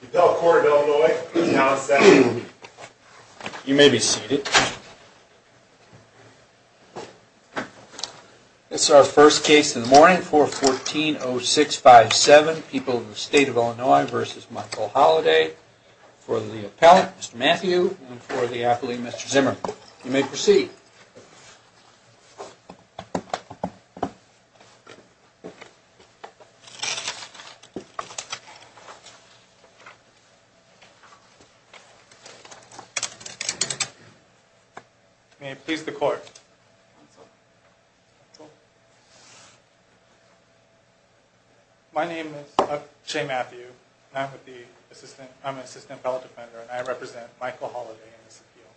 The appellate court of Illinois has announced that you may be seated. This is our first case in the morning, 414-0657, People of the State of Illinois v. Michael Holliday. For the appellant, Mr. Matthew, and for the athlete, Mr. Zimmer, you may proceed. May it please the court. My name is Shea Matthew, and I'm an assistant appellate defender, and I represent Michael Holliday in this appeal.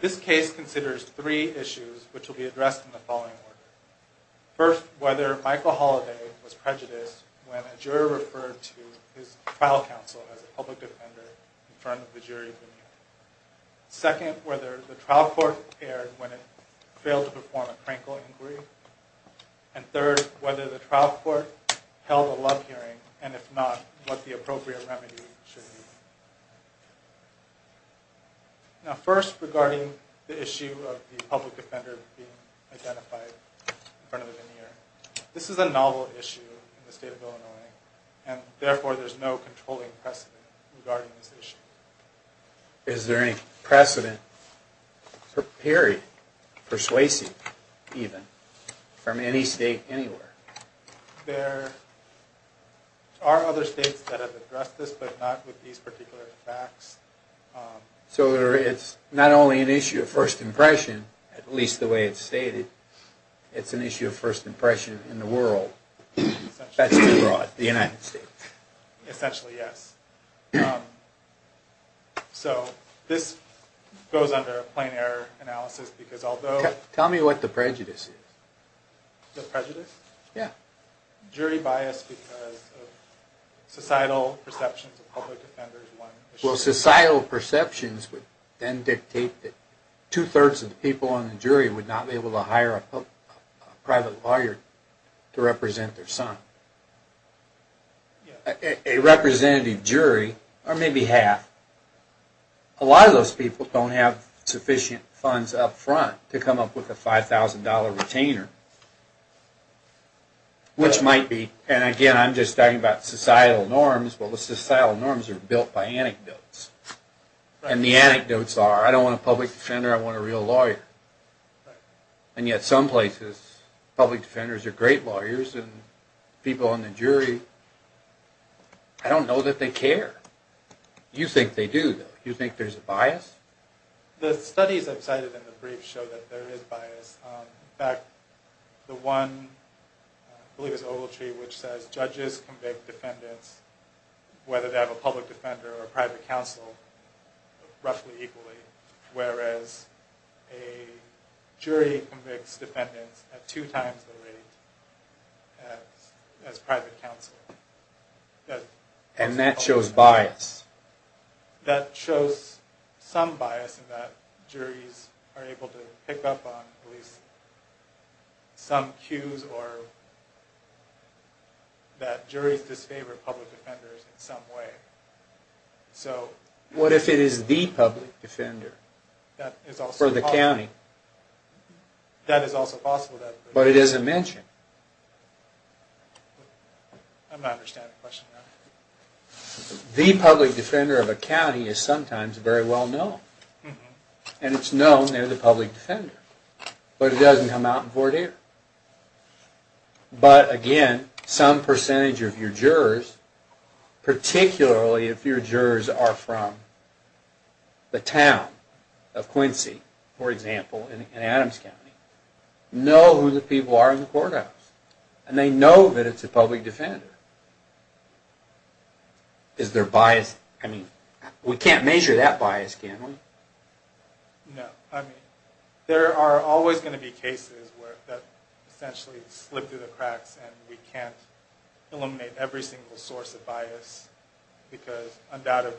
This case considers three issues, which will be addressed in the following order. First, whether Michael Holliday was prejudiced when a jury referred to his trial counsel as a public defender in front of the jury. Second, whether the trial court erred when it failed to perform a crankle inquiry. And third, whether the trial court held a love hearing, and if not, what the appropriate remedy should be. Now first, regarding the issue of the public defender being identified in front of the veneer. This is a novel issue in the state of Illinois, and therefore there's no controlling precedent regarding this issue. Is there any precedent, period, persuasive even, from any state anywhere? There are other states that have addressed this, but not with these particular facts. So it's not only an issue of first impression, at least the way it's stated, it's an issue of first impression in the world. That's too broad. The United States. Essentially, yes. So this goes under a plain error analysis, because although... Tell me what the prejudice is. The prejudice? Yeah. Jury bias because of societal perceptions of public defenders. Well, societal perceptions would then dictate that two-thirds of the people on the jury would not be able to hire a private lawyer to represent their son. A representative jury, or maybe half. A lot of those people don't have sufficient funds up front to come up with a $5,000 retainer, which might be... And again, I'm just talking about societal norms, but the societal norms are built by anecdotes. And the anecdotes are, I don't want a public defender, I want a real lawyer. And yet some places, public defenders are great lawyers, and people on the jury, I don't know that they care. You think they do, though. You think there's a bias? The studies I've cited in the brief show that there is bias. In fact, the one, I believe it's Ogletree, which says judges convict defendants, whether they have a public defender or a private counsel, roughly equally. Whereas a jury convicts defendants at two times the rate as private counsel. And that shows bias. That shows some bias in that juries are able to pick up on at least some cues or that juries disfavor public defenders in some way. What if it is the public defender? That is also possible. For the county. That is also possible. But it isn't mentioned. I'm not understanding the question. The public defender of a county is sometimes very well known. And it's known they're the public defender. But it doesn't come out in four days. But again, some percentage of your jurors, particularly if your jurors are from the town of Quincy, for example, in Adams County, know who the people are in the courthouse. And they know that it's a public defender. Is there bias? I mean, we can't measure that bias, can we? No. I mean, there are always going to be cases where that essentially slipped through the cracks and we can't eliminate every single source of bias. Because undoubtedly,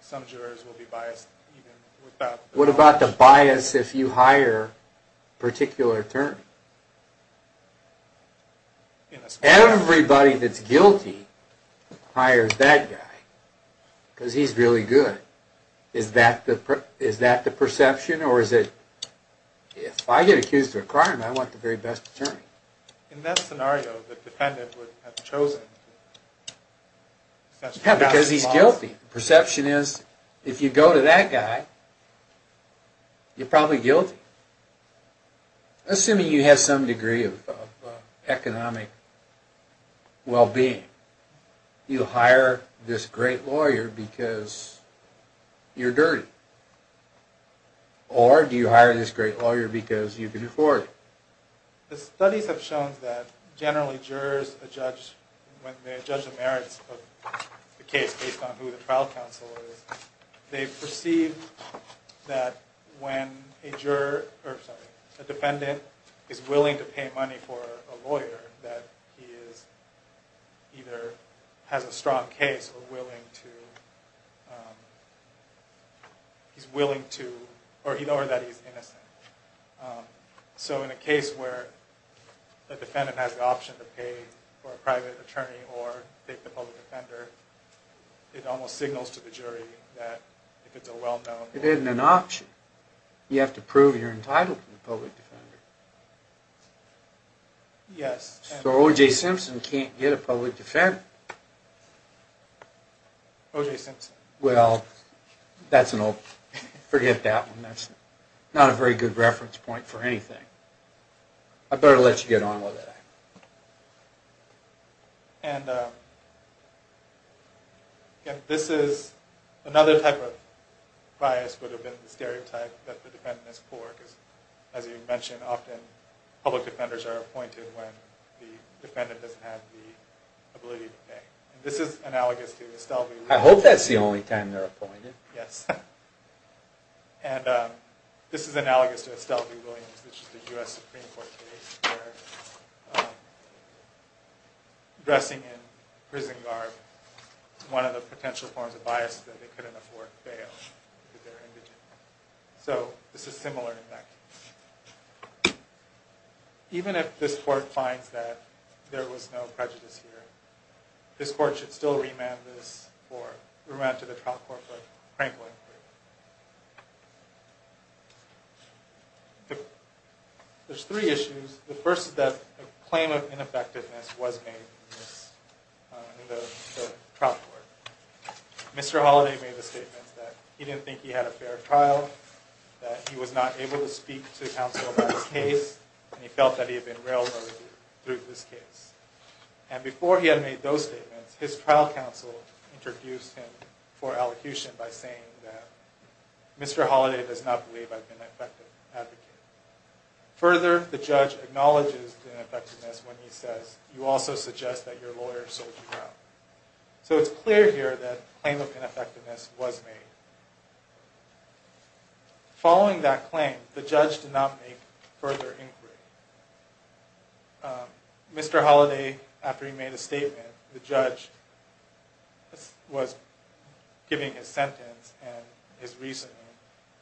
some jurors will be biased even without... What about the bias if you hire a particular attorney? Everybody that's guilty hires that guy. Because he's really good. Is that the perception? Or is it, if I get accused of a crime, I want the very best attorney? In that scenario, the defendant would have chosen... Yeah, because he's guilty. The perception is, if you go to that guy, you're probably guilty. Assuming you have some degree of economic well-being. You hire this great lawyer because you're dirty. Or do you hire this great lawyer because you can afford it? The studies have shown that generally jurors, when they judge the merits of the case based on who the trial counsel is, they perceive that when a defendant is willing to pay money for a lawyer, that he either has a strong case or that he's innocent. So in a case where the defendant has the option to pay for a private attorney or take the public defender, it almost signals to the jury that if it's a well-known... It isn't an option. You have to prove you're entitled to the public defender. Yes. So O.J. Simpson can't get a public defender. O.J. Simpson. Well, forget that one. That's not a very good reference point for anything. I better let you get on with it. And this is another type of bias would have been the stereotype that the defendant is poor. As you mentioned, often public defenders are appointed when the defendant doesn't have the ability to pay. This is analogous to Estalvi. I hope that's the only time they're appointed. Yes. And this is analogous to Estalvi Williams, which is a U.S. Supreme Court case where dressing in prison garb is one of the potential forms of bias that they couldn't afford to fail. So this is similar in that case. Even if this court finds that there was no prejudice here, this court should still remand this or remand to the trial court for Franklin. There's three issues. The first is that a claim of ineffectiveness was made in the trial court. Mr. Holliday made the statement that he didn't think he had a fair trial, that he was not able to speak to counsel about his case, and he felt that he had been railroaded through this case. And before he had made those statements, his trial counsel introduced him for elocution by saying that Mr. Holliday does not believe I've been an effective advocate. Further, the judge acknowledges the ineffectiveness when he says, you also suggest that your lawyer sold you out. So it's clear here that a claim of ineffectiveness was made. Following that claim, the judge did not make further inquiry. Mr. Holliday, after he made a statement, the judge was giving his sentence and his reasoning,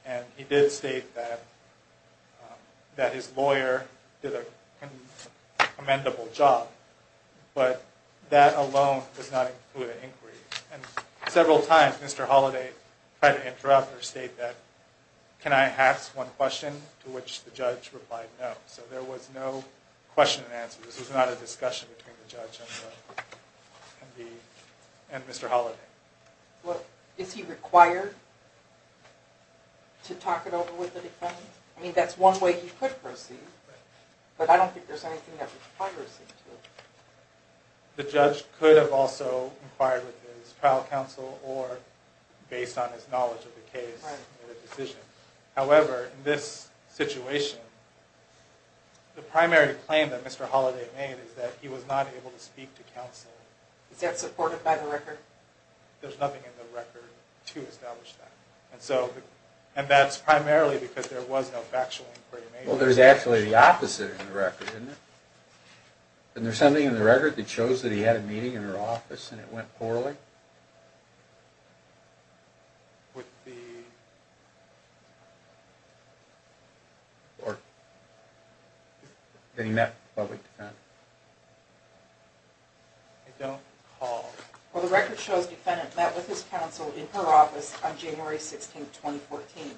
and he did state that his lawyer did a commendable job. But that alone does not include an inquiry. And several times, Mr. Holliday tried to interrupt or state that, can I ask one question, to which the judge replied no. So there was no question and answer. This was not a discussion between the judge and Mr. Holliday. Is he required to talk it over with the defense? I mean, that's one way he could proceed, but I don't think there's anything that requires him to. The judge could have also inquired with his trial counsel or, based on his knowledge of the case, made a decision. However, in this situation, the primary claim that Mr. Holliday made is that he was not able to speak to counsel. Is that supported by the record? There's nothing in the record to establish that. And that's primarily because there was no factual inquiry made. Well, there's actually the opposite in the record, isn't there? Isn't there something in the record that shows that he had a meeting in her office and it went poorly? Or that he met with a public defendant? I don't recall. Well, the record shows the defendant met with his counsel in her office on January 16, 2014.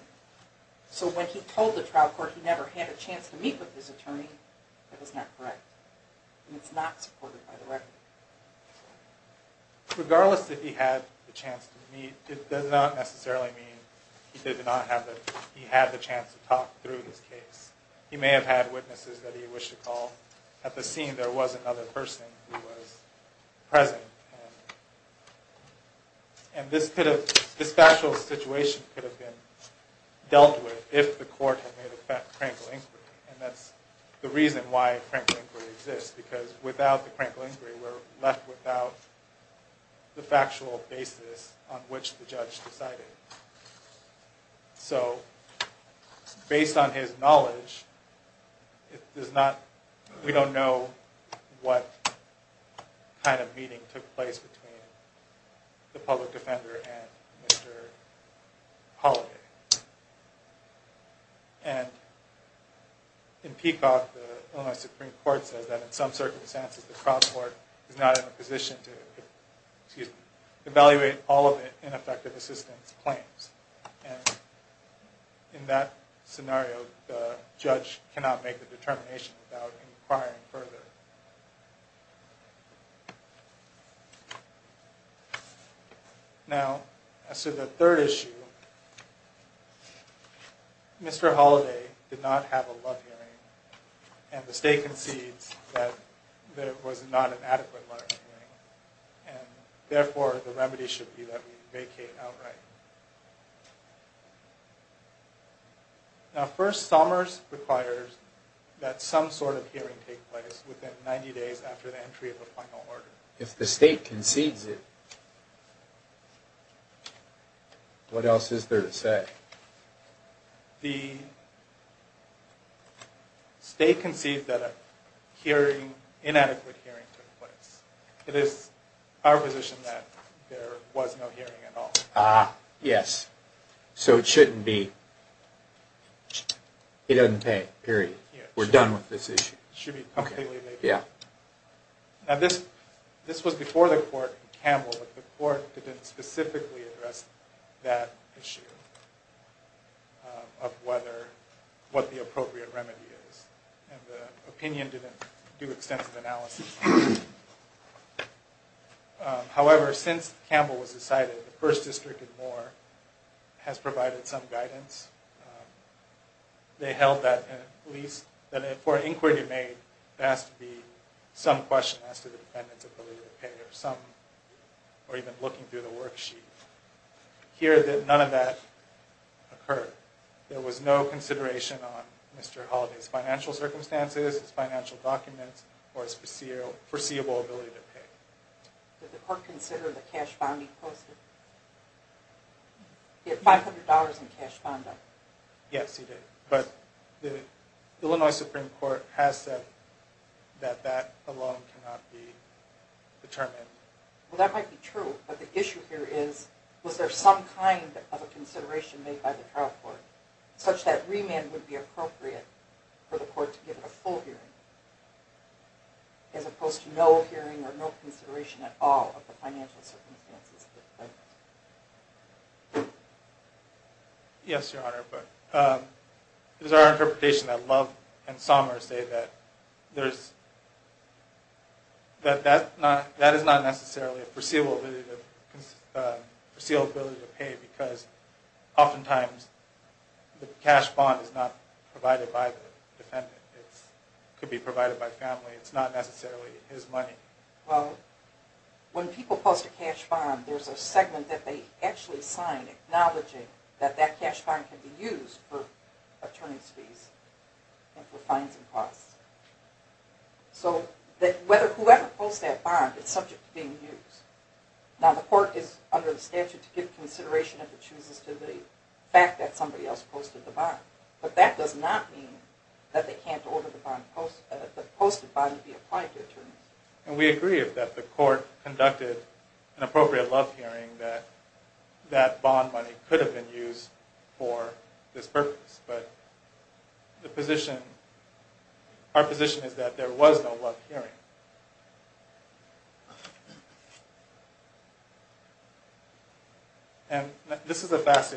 So when he told the trial court he never had a chance to meet with his attorney, that was not correct. And it's not supported by the record. Regardless that he had the chance to meet, it does not necessarily mean he had the chance to talk through this case. He may have had witnesses that he wished to call. At the scene, there was another person who was present. And this factual situation could have been dealt with if the court had made a frank inquiry. And that's the reason why a frank inquiry exists. Because without the frank inquiry, we're left without the factual basis on which the judge decided. So, based on his knowledge, we don't know what kind of meeting took place between the public defender and Mr. Holliday. And in Peacock, the Illinois Supreme Court says that in some circumstances, the trial court is not in a position to evaluate all of the ineffective assistance claims. And in that scenario, the judge cannot make the determination without inquiring further. Now, as to the third issue, Mr. Holliday did not have a love hearing. And the state concedes that there was not an adequate love hearing. And therefore, the remedy should be that we vacate outright. Now, first, Summers requires that some sort of hearing take place within 90 days after the entry of the final order. If the state concedes it, what else is there to say? The state concedes that an inadequate hearing took place. It is our position that there was no hearing at all. Ah, yes. So it shouldn't be. It doesn't pay, period. We're done with this issue. It should be completely vacated. Yeah. Now, this was before the court in Campbell, but the court didn't specifically address that issue of what the appropriate remedy is. And the opinion didn't do extensive analysis. However, since Campbell was decided, the 1st District and more has provided some guidance. They held that, at least, that for an inquiry to be made, there has to be some question as to the dependence of the legal payer. Some are even looking through the worksheet. Here, none of that occurred. There was no consideration on Mr. Holliday's financial circumstances, his financial documents, or his foreseeable ability to pay. Did the court consider the cash bond he posted? He had $500 in cash bond debt. Yes, he did. But the Illinois Supreme Court has said that that alone cannot be determined. Well, that might be true, but the issue here is, was there some kind of a consideration made by the trial court, such that remand would be appropriate for the court to give a full hearing, as opposed to no hearing or no consideration at all of the financial circumstances of his claim. Yes, Your Honor. It is our interpretation that Love and Sommer say that that is not necessarily a foreseeable ability to pay, because oftentimes the cash bond is not provided by the defendant. It could be provided by family. It's not necessarily his money. Well, when people post a cash bond, there's a segment that they actually sign acknowledging that that cash bond can be used for attorney's fees and for fines and costs. So whoever posts that bond is subject to being used. Now, the court is under the statute to give consideration if it chooses to the fact that somebody else posted the bond. But that does not mean that they can't order the posted bond to be applied to attorneys. And we agree that the court conducted an appropriate love hearing that that bond money could have been used for this purpose. But our position is that there was no love hearing. And this is a fast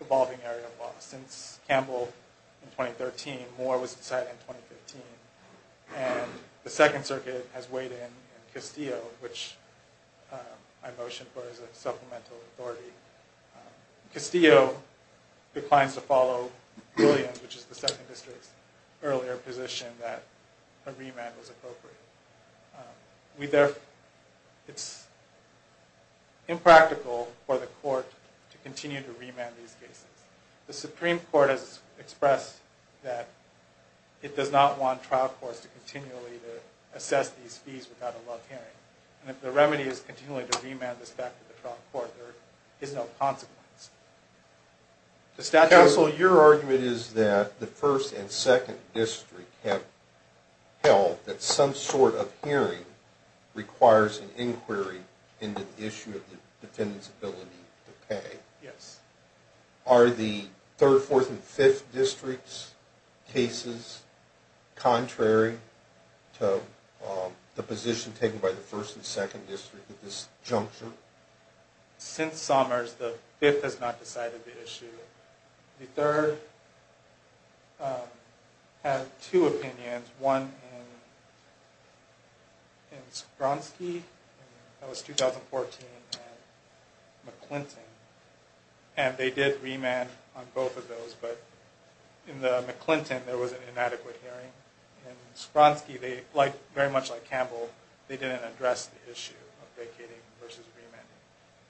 evolving area of law. Since Campbell in 2013, Moore was decided in 2015. And the Second Circuit has weighed in Castillo, which I motioned for as a supplemental authority. Castillo declines to follow Williams, which is the Second District's earlier position that a remand was appropriate. It's impractical for the court to continue to remand these cases. The Supreme Court has expressed that it does not want trial courts to continually assess these fees without a love hearing. And if the remedy is continually to remand this back to the trial court, there is no consequence. Counsel, your argument is that the First and Second District have held that some sort of hearing requires an inquiry into the issue of the defendant's ability to pay. Yes. Are the Third, Fourth, and Fifth District's cases contrary to the position taken by the First and Second District at this juncture? Since Summers, the Fifth has not decided the issue. The Third had two opinions. One in Spronsky, that was 2014, and McClinton. And they did remand on both of those, but in the McClinton there was an inadequate hearing. In Spronsky, very much like Campbell, they didn't address the issue of vacating versus remanding.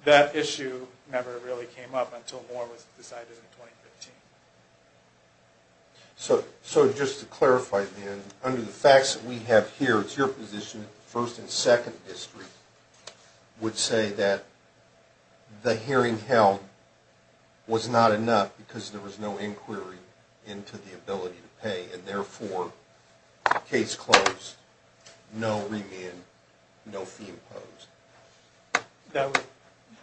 That issue never really came up until Moore was decided in 2015. So just to clarify, under the facts that we have here, it's your position that the First and Second District would say that the hearing held was not enough because there was no inquiry into the ability to pay, and therefore, case closed, no remand, no fee imposed.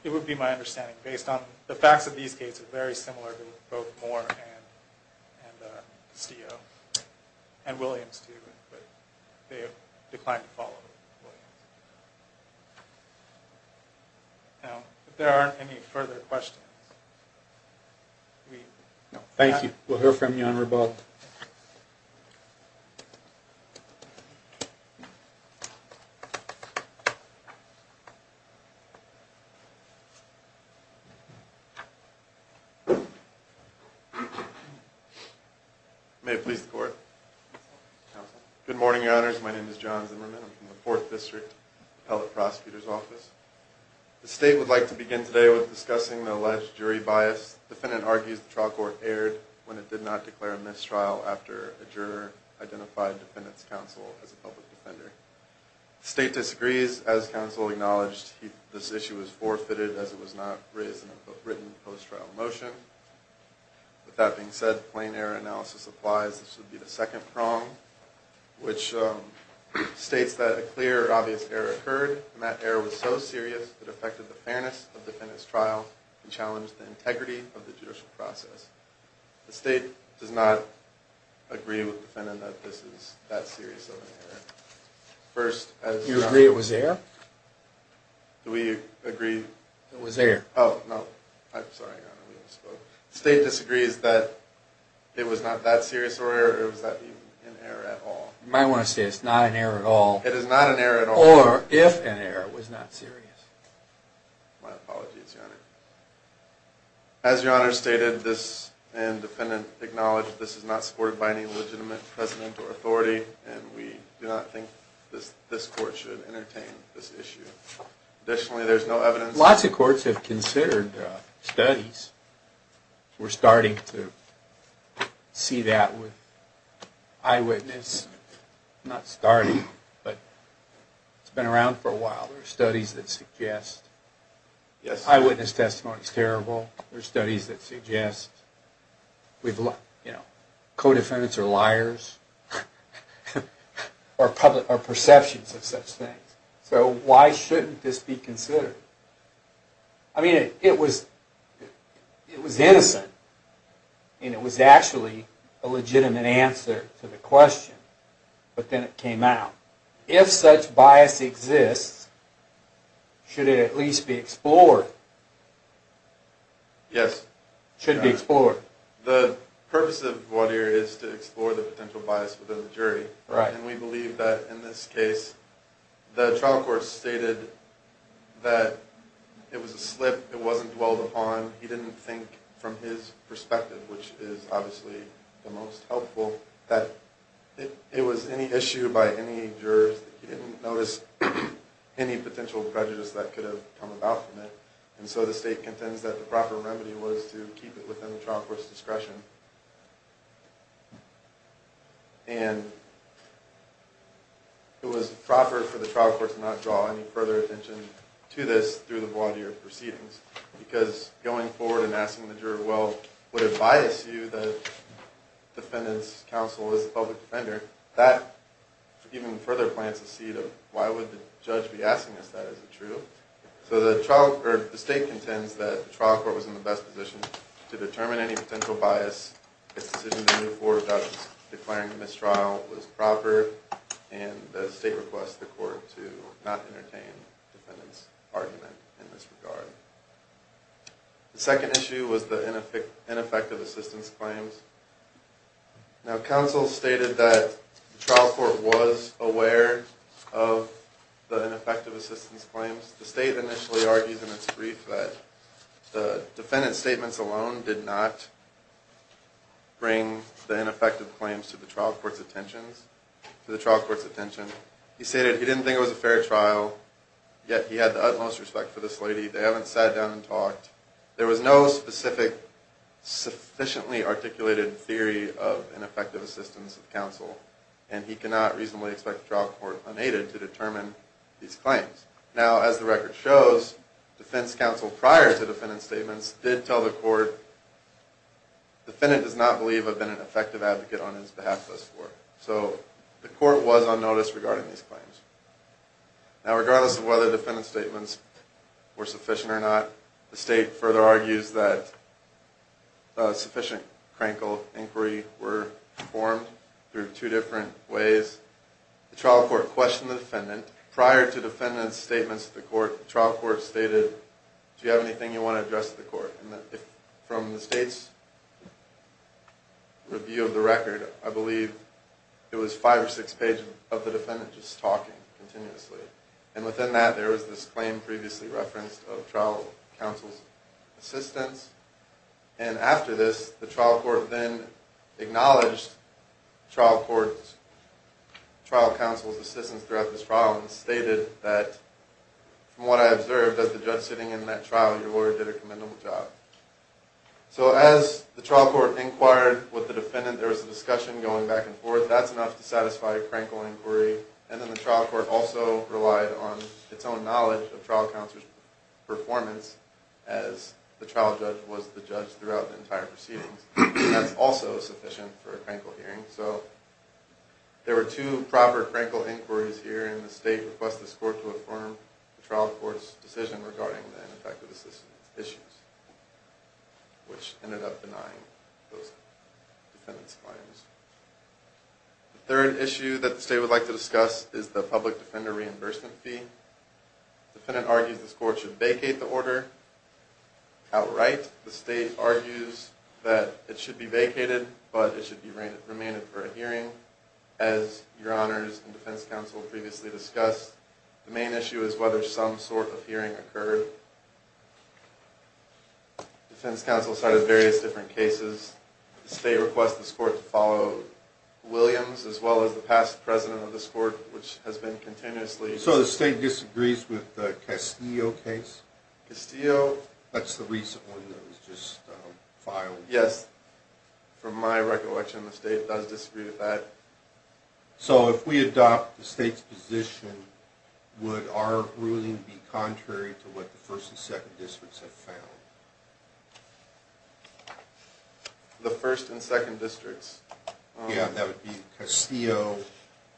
It would be my understanding, based on the facts of these cases, very similar to both Moore and Williams. They declined to follow Williams. Now, if there aren't any further questions. Thank you. We'll hear from you on rebuttal. May it please the Court. Good morning, Your Honors. My name is John Zimmerman. I'm from the Fourth District, Appellate Prosecutor's Office. The State would like to begin today with discussing the alleged jury bias. The defendant argues the trial court erred when it did not declare a mistrial after a juror identified the defendant's counsel as a public defender. The State disagrees. As counsel acknowledged, this issue was forfeited as it was not raised in a written post-trial motion. With that being said, plain error analysis applies. This would be the second prong, which states that a clear or obvious error occurred, and that error was so serious it affected the fairness of the defendant's trial and challenged the integrity of the judicial process. The State does not agree with the defendant that this is that serious of an error. You agree it was error? Do we agree? It was error. Oh, no. I'm sorry, Your Honor. We didn't speak. The State disagrees that it was not that serious of an error, or was that even an error at all? You might want to say it's not an error at all. It is not an error at all. Or, if an error was not serious. My apologies, Your Honor. As Your Honor stated, this defendant acknowledged this is not supported by any legitimate president or authority, and we do not think this court should entertain this issue. Additionally, there's no evidence... Lots of courts have considered studies. We're starting to see that with eyewitness... Not starting, but it's been around for a while. There are studies that suggest eyewitness testimony is terrible. There are studies that suggest co-defendants are liars, or perceptions of such things. So, why shouldn't this be considered? I mean, it was innocent, and it was actually a legitimate answer to the question, but then it came out. If such bias exists, should it at least be explored? Yes. Should it be explored? The purpose of Gwadir is to explore the potential bias within the jury, and we believe that in this case, the trial court stated that it was a slip. It wasn't dwelled upon. He didn't think, from his perspective, which is obviously the most helpful, that it was any issue by any jurors. He didn't notice any potential prejudice that could have come about from it, and so the state contends that the proper remedy was to keep it within the trial court's discretion. And it was proper for the trial court to not draw any further attention to this through the Gwadir proceedings, because going forward and asking the juror, well, would it bias you, the defendant's counsel as a public defender, that even further plants the seed of why would the judge be asking us that? Is it true? So the state contends that the trial court was in the best position to determine any potential bias. Its decision to move forward without declaring a mistrial was proper, and the state requests the court to not entertain the defendant's argument in this regard. The second issue was the ineffective assistance claims. Now, counsel stated that the trial court was aware of the ineffective assistance claims. The state initially argued in its brief that the defendant's statements alone did not bring the ineffective claims to the trial court's attentions. He stated he didn't think it was a fair trial, yet he had the utmost respect for this lady. They haven't sat down and talked. There was no specific sufficiently articulated theory of ineffective assistance of counsel, and he cannot reasonably expect the trial court, unaided, to determine these claims. Now, as the record shows, defense counsel prior to defendant's statements did tell the court, defendant does not believe I've been an effective advocate on his behalf thus far. So the court was on notice regarding these claims. Now, regardless of whether defendant's statements were sufficient or not, the state further argues that sufficient crankle inquiry were performed through two different ways. The trial court questioned the defendant. Prior to defendant's statements to the court, the trial court stated, From the state's review of the record, I believe it was five or six pages of the defendant just talking continuously. And within that, there was this claim previously referenced of trial counsel's assistance. And after this, the trial court then acknowledged trial counsel's assistance throughout this trial and stated that, from what I observed, as the judge sitting in that trial, your lawyer did a commendable job. So as the trial court inquired with the defendant, there was a discussion going back and forth. That's enough to satisfy a crankle inquiry. And then the trial court also relied on its own knowledge of trial counsel's performance as the trial judge was the judge throughout the entire proceedings. That's also sufficient for a crankle hearing. So there were two proper crankle inquiries here. And the state requested the court to affirm the trial court's decision regarding the ineffective assistance issues, which ended up denying those defendant's claims. The third issue that the state would like to discuss is the public defender reimbursement fee. The defendant argues this court should vacate the order outright. The state argues that it should be vacated, but it should be remained for a hearing, as your honors and defense counsel previously discussed. The main issue is whether some sort of hearing occurred. Defense counsel cited various different cases. The state requests this court to follow Williams as well as the past president of this court, which has been continuously. So the state disagrees with the Castillo case? Castillo. That's the recent one that was just filed. Yes. From my recollection, the state does disagree with that. So if we adopt the state's position, would our ruling be contrary to what the 1st and 2nd districts have found? The 1st and 2nd districts? Yeah, that would be Castillo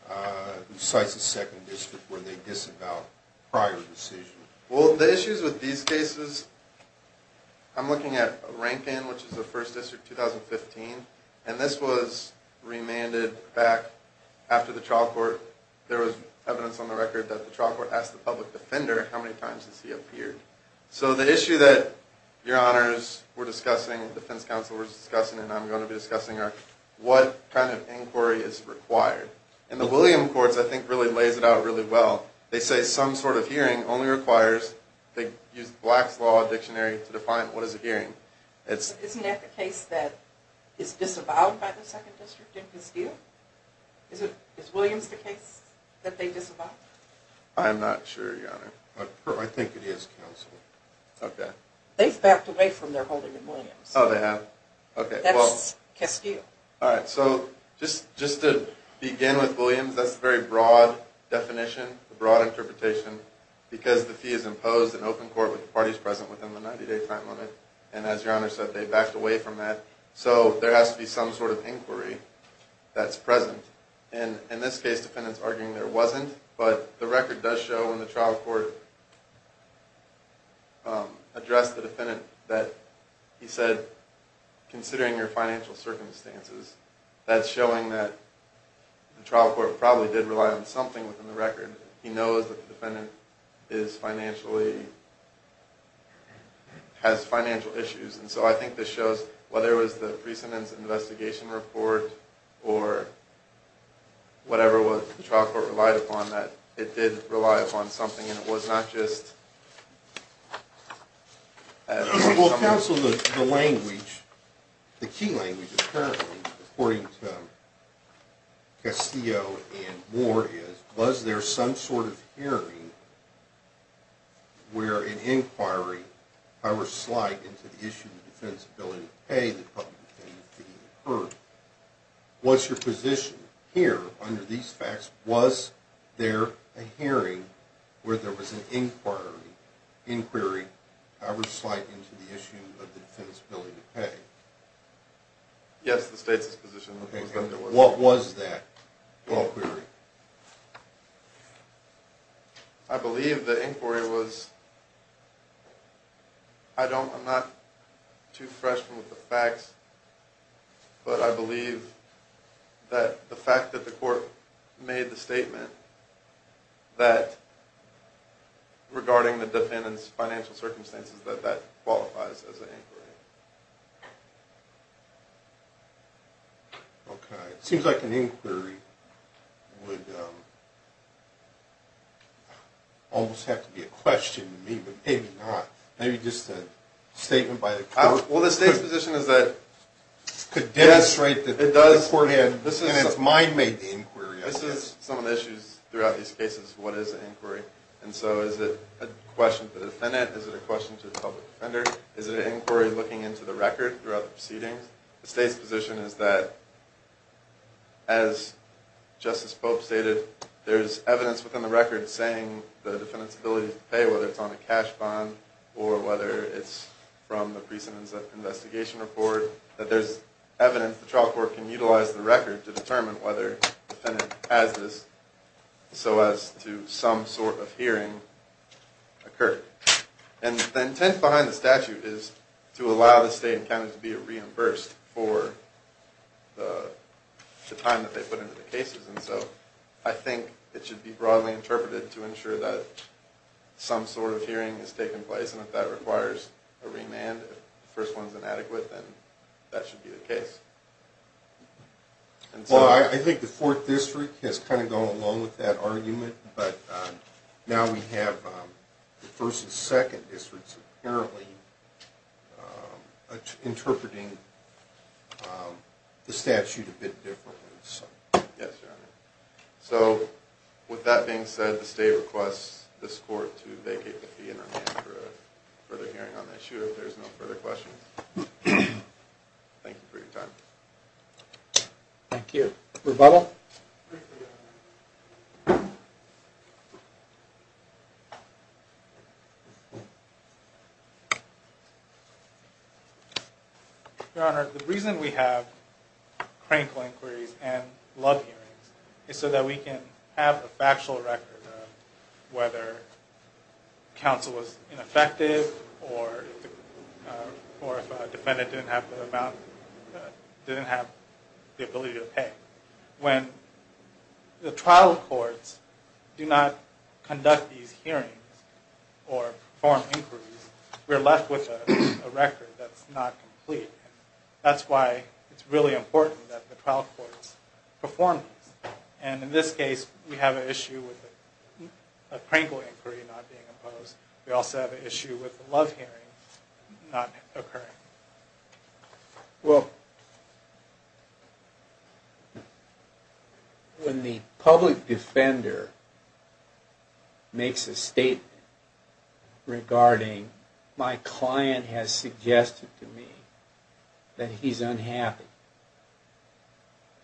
who cites the 2nd district where they disavow prior decisions. Well, the issues with these cases, I'm looking at Rankin, which is the 1st district, 2015, and this was remanded back after the trial court. There was evidence on the record that the trial court asked the public defender how many times has he appeared. So the issue that your honors were discussing and defense counsel were discussing and I'm going to be discussing are what kind of inquiry is required. And the Williams courts, I think, really lays it out really well. They say some sort of hearing only requires, they use Black's Law Dictionary to define what is a hearing. Isn't that the case that is disavowed by the 2nd district in Castillo? Is Williams the case that they disavow? I'm not sure, your honor. I think it is counsel. Okay. They've backed away from their holding in Williams. Oh, they have? That's Castillo. All right. So just to begin with Williams, that's a very broad definition, a broad interpretation, because the fee is imposed in open court with the parties present within the 90-day time limit. And as your honor said, they backed away from that. So there has to be some sort of inquiry that's present. And in this case, the defendant is arguing there wasn't, but the record does show when the trial court addressed the defendant that he said, considering your financial circumstances, that's showing that the trial court probably did rely on something within the record. He knows that the defendant is financially, has financial issues. And so I think this shows whether it was the recent investigation report or whatever the trial court relied upon, that it did rely upon something. And it was not just... Well, counsel, the language, the key language, apparently, according to Castillo and Moore is, was there some sort of hearing where an inquiry, however slight, into the issue of the defenseability of pay, the public defenseability of pay, occurred? What's your position here under these facts? Was there a hearing where there was an inquiry, however slight, into the issue of the defenseability of pay? Yes, the state's position was that there was. What was that inquiry? I believe the inquiry was... I don't, I'm not too fresh with the facts, but I believe that the fact that the court made the statement that, regarding the defendant's financial circumstances, that that qualifies as an inquiry. Okay. It seems like an inquiry would almost have to be a question to me, but maybe not. Maybe just a statement by the court. Well, the state's position is that it could demonstrate that the court had, This is some of the issues throughout these cases. What is an inquiry? And so is it a question to the defendant? Is it a question to the public defender? Is it an inquiry looking into the record throughout the proceedings? The state's position is that, as Justice Pope stated, there's evidence within the record saying the defendant's ability to pay, whether it's on a cash bond or whether it's from the recent investigation report, that there's evidence the trial court can utilize the record to determine whether the defendant has this, so as to some sort of hearing occur. And the intent behind the statute is to allow the state and counties to be reimbursed for the time that they put into the cases. And so I think it should be broadly interpreted to ensure that some sort of hearing has taken place, and if that requires a remand, if the first one's inadequate, then that should be the case. Well, I think the Fourth District has kind of gone along with that argument, but now we have the First and Second Districts apparently interpreting the statute a bit differently. Yes, Your Honor. So with that being said, the state requests this court to vacate the fee and remand for a further hearing on the issue, if there's no further questions. Thank you for your time. Thank you. Rebuttal? Your Honor, the reason we have cranial inquiries and love hearings is so that we can have a factual record of whether counsel was ineffective or if a defendant didn't have the ability to pay. When the trial courts do not conduct these hearings or perform inquiries, we're left with a record that's not complete. That's why it's really important that the trial courts perform these. And in this case, we have an issue with a cranial inquiry not being imposed. We also have an issue with the love hearing not occurring. Well, when the public defender makes a statement regarding, my client has suggested to me that he's unhappy,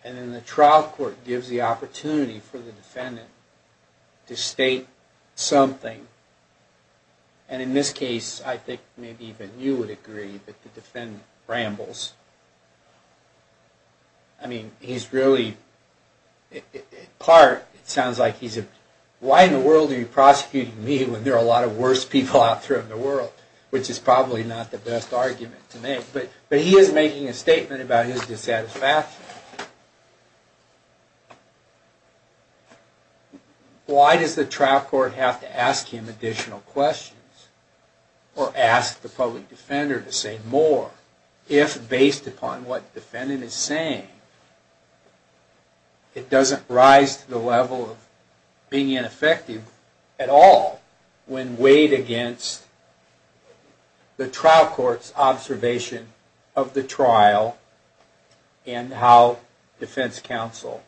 and then the trial court gives the opportunity for the defendant to state something, and in this case, I think maybe even you would agree that the defendant rambles. I mean, he's really, in part, it sounds like he's a, why in the world are you prosecuting me when there are a lot of worse people out there in the world? Which is probably not the best argument to make, but he is making a statement about his dissatisfaction. Why does the trial court have to ask him additional questions, or ask the public defender to say more, if based upon what the defendant is saying, it doesn't rise to the level of being ineffective at all, when weighed against the trial court's observation of the trial, and how defense counsel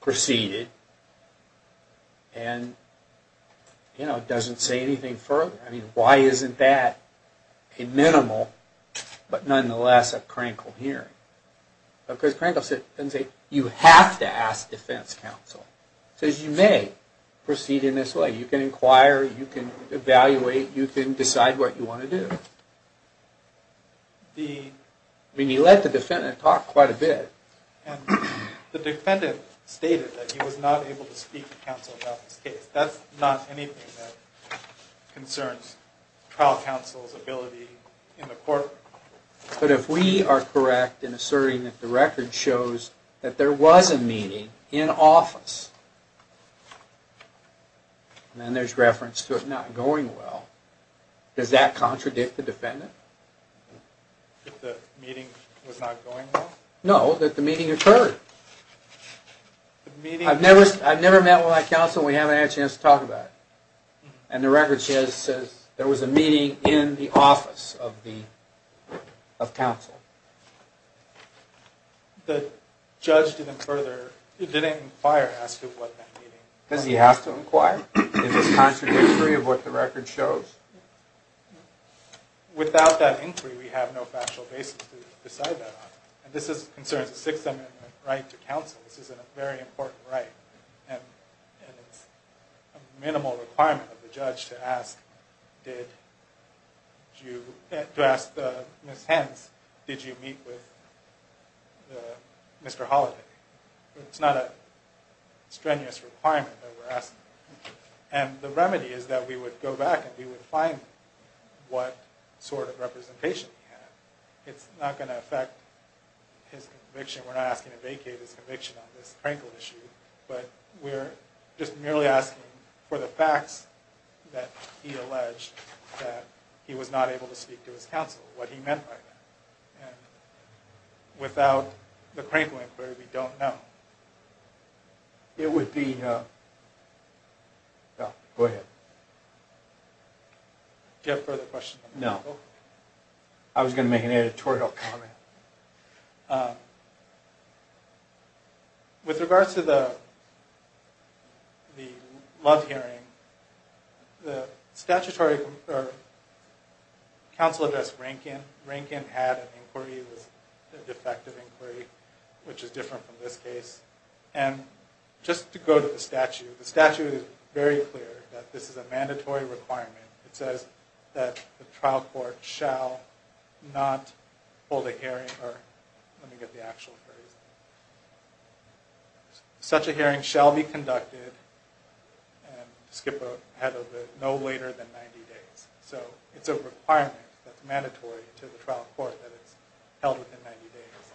proceeded, and it doesn't say anything further. I mean, why isn't that a minimal, but nonetheless, a crankled hearing? Because crankled doesn't say, you have to ask defense counsel. It says you may proceed in this way. You can inquire, you can evaluate, you can decide what you want to do. I mean, he let the defendant talk quite a bit. The defendant stated that he was not able to speak to counsel about this case. That's not anything that concerns trial counsel's ability in the courtroom. But if we are correct in asserting that the record shows that there was a meeting in office, and then there's reference to it not going well, does that contradict the defendant? That the meeting was not going well? No, that the meeting occurred. I've never met with my counsel and we haven't had a chance to talk about it. And the record says there was a meeting in the office of counsel. The judge didn't inquire as to what that meeting was. Does he have to inquire? Is this contradictory of what the record shows? Without that inquiry, we have no factual basis to decide that on. And this concerns the Sixth Amendment right to counsel. This is a very important right. And it's a minimal requirement of the judge to ask Ms. Hens, did you meet with Mr. Holiday? It's not a strenuous requirement that we're asking. And the remedy is that we would go back and we would find what sort of representation he had. It's not going to affect his conviction. We're not asking to vacate his conviction on this Crankle issue, but we're just merely asking for the facts that he alleged that he was not able to speak to his counsel, what he meant by that. Without the Crankle inquiry, we don't know. It would be... Go ahead. Do you have further questions? No. I was going to make an editorial comment. With regards to the Love hearing, the statutory counsel addressed Rankin. Rankin had an inquiry. It was a defective inquiry, which is different from this case. And just to go to the statute, the statute is very clear that this is a mandatory requirement. It says that the trial court shall not hold a hearing, or let me get the actual phrase. Such a hearing shall be conducted, and to skip ahead a bit, no later than 90 days. So it's a requirement that's mandatory to the trial court that it's held within 90 days.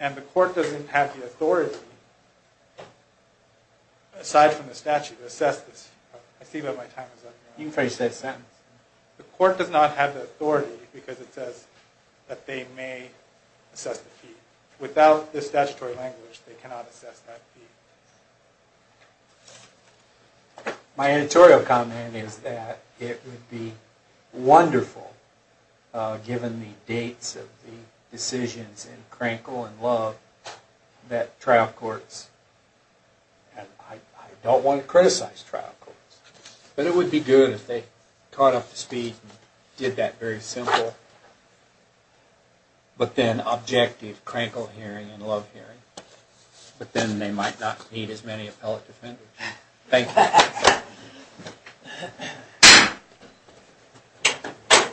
And the court doesn't have the authority, aside from the statute, to assess this. I see that my time is up now. You can finish that sentence. The court does not have the authority, because it says that they may assess the fee. Without the statutory language, they cannot assess that fee. My editorial comment is that it would be wonderful, given the dates of the decisions in Crankle and Love, that trial courts, and I don't want to criticize trial courts, but it would be good if they caught up to speed and did that very simple, but then objective Crankle hearing and Love hearing. But then they might not need as many appellate defenders. Thank you.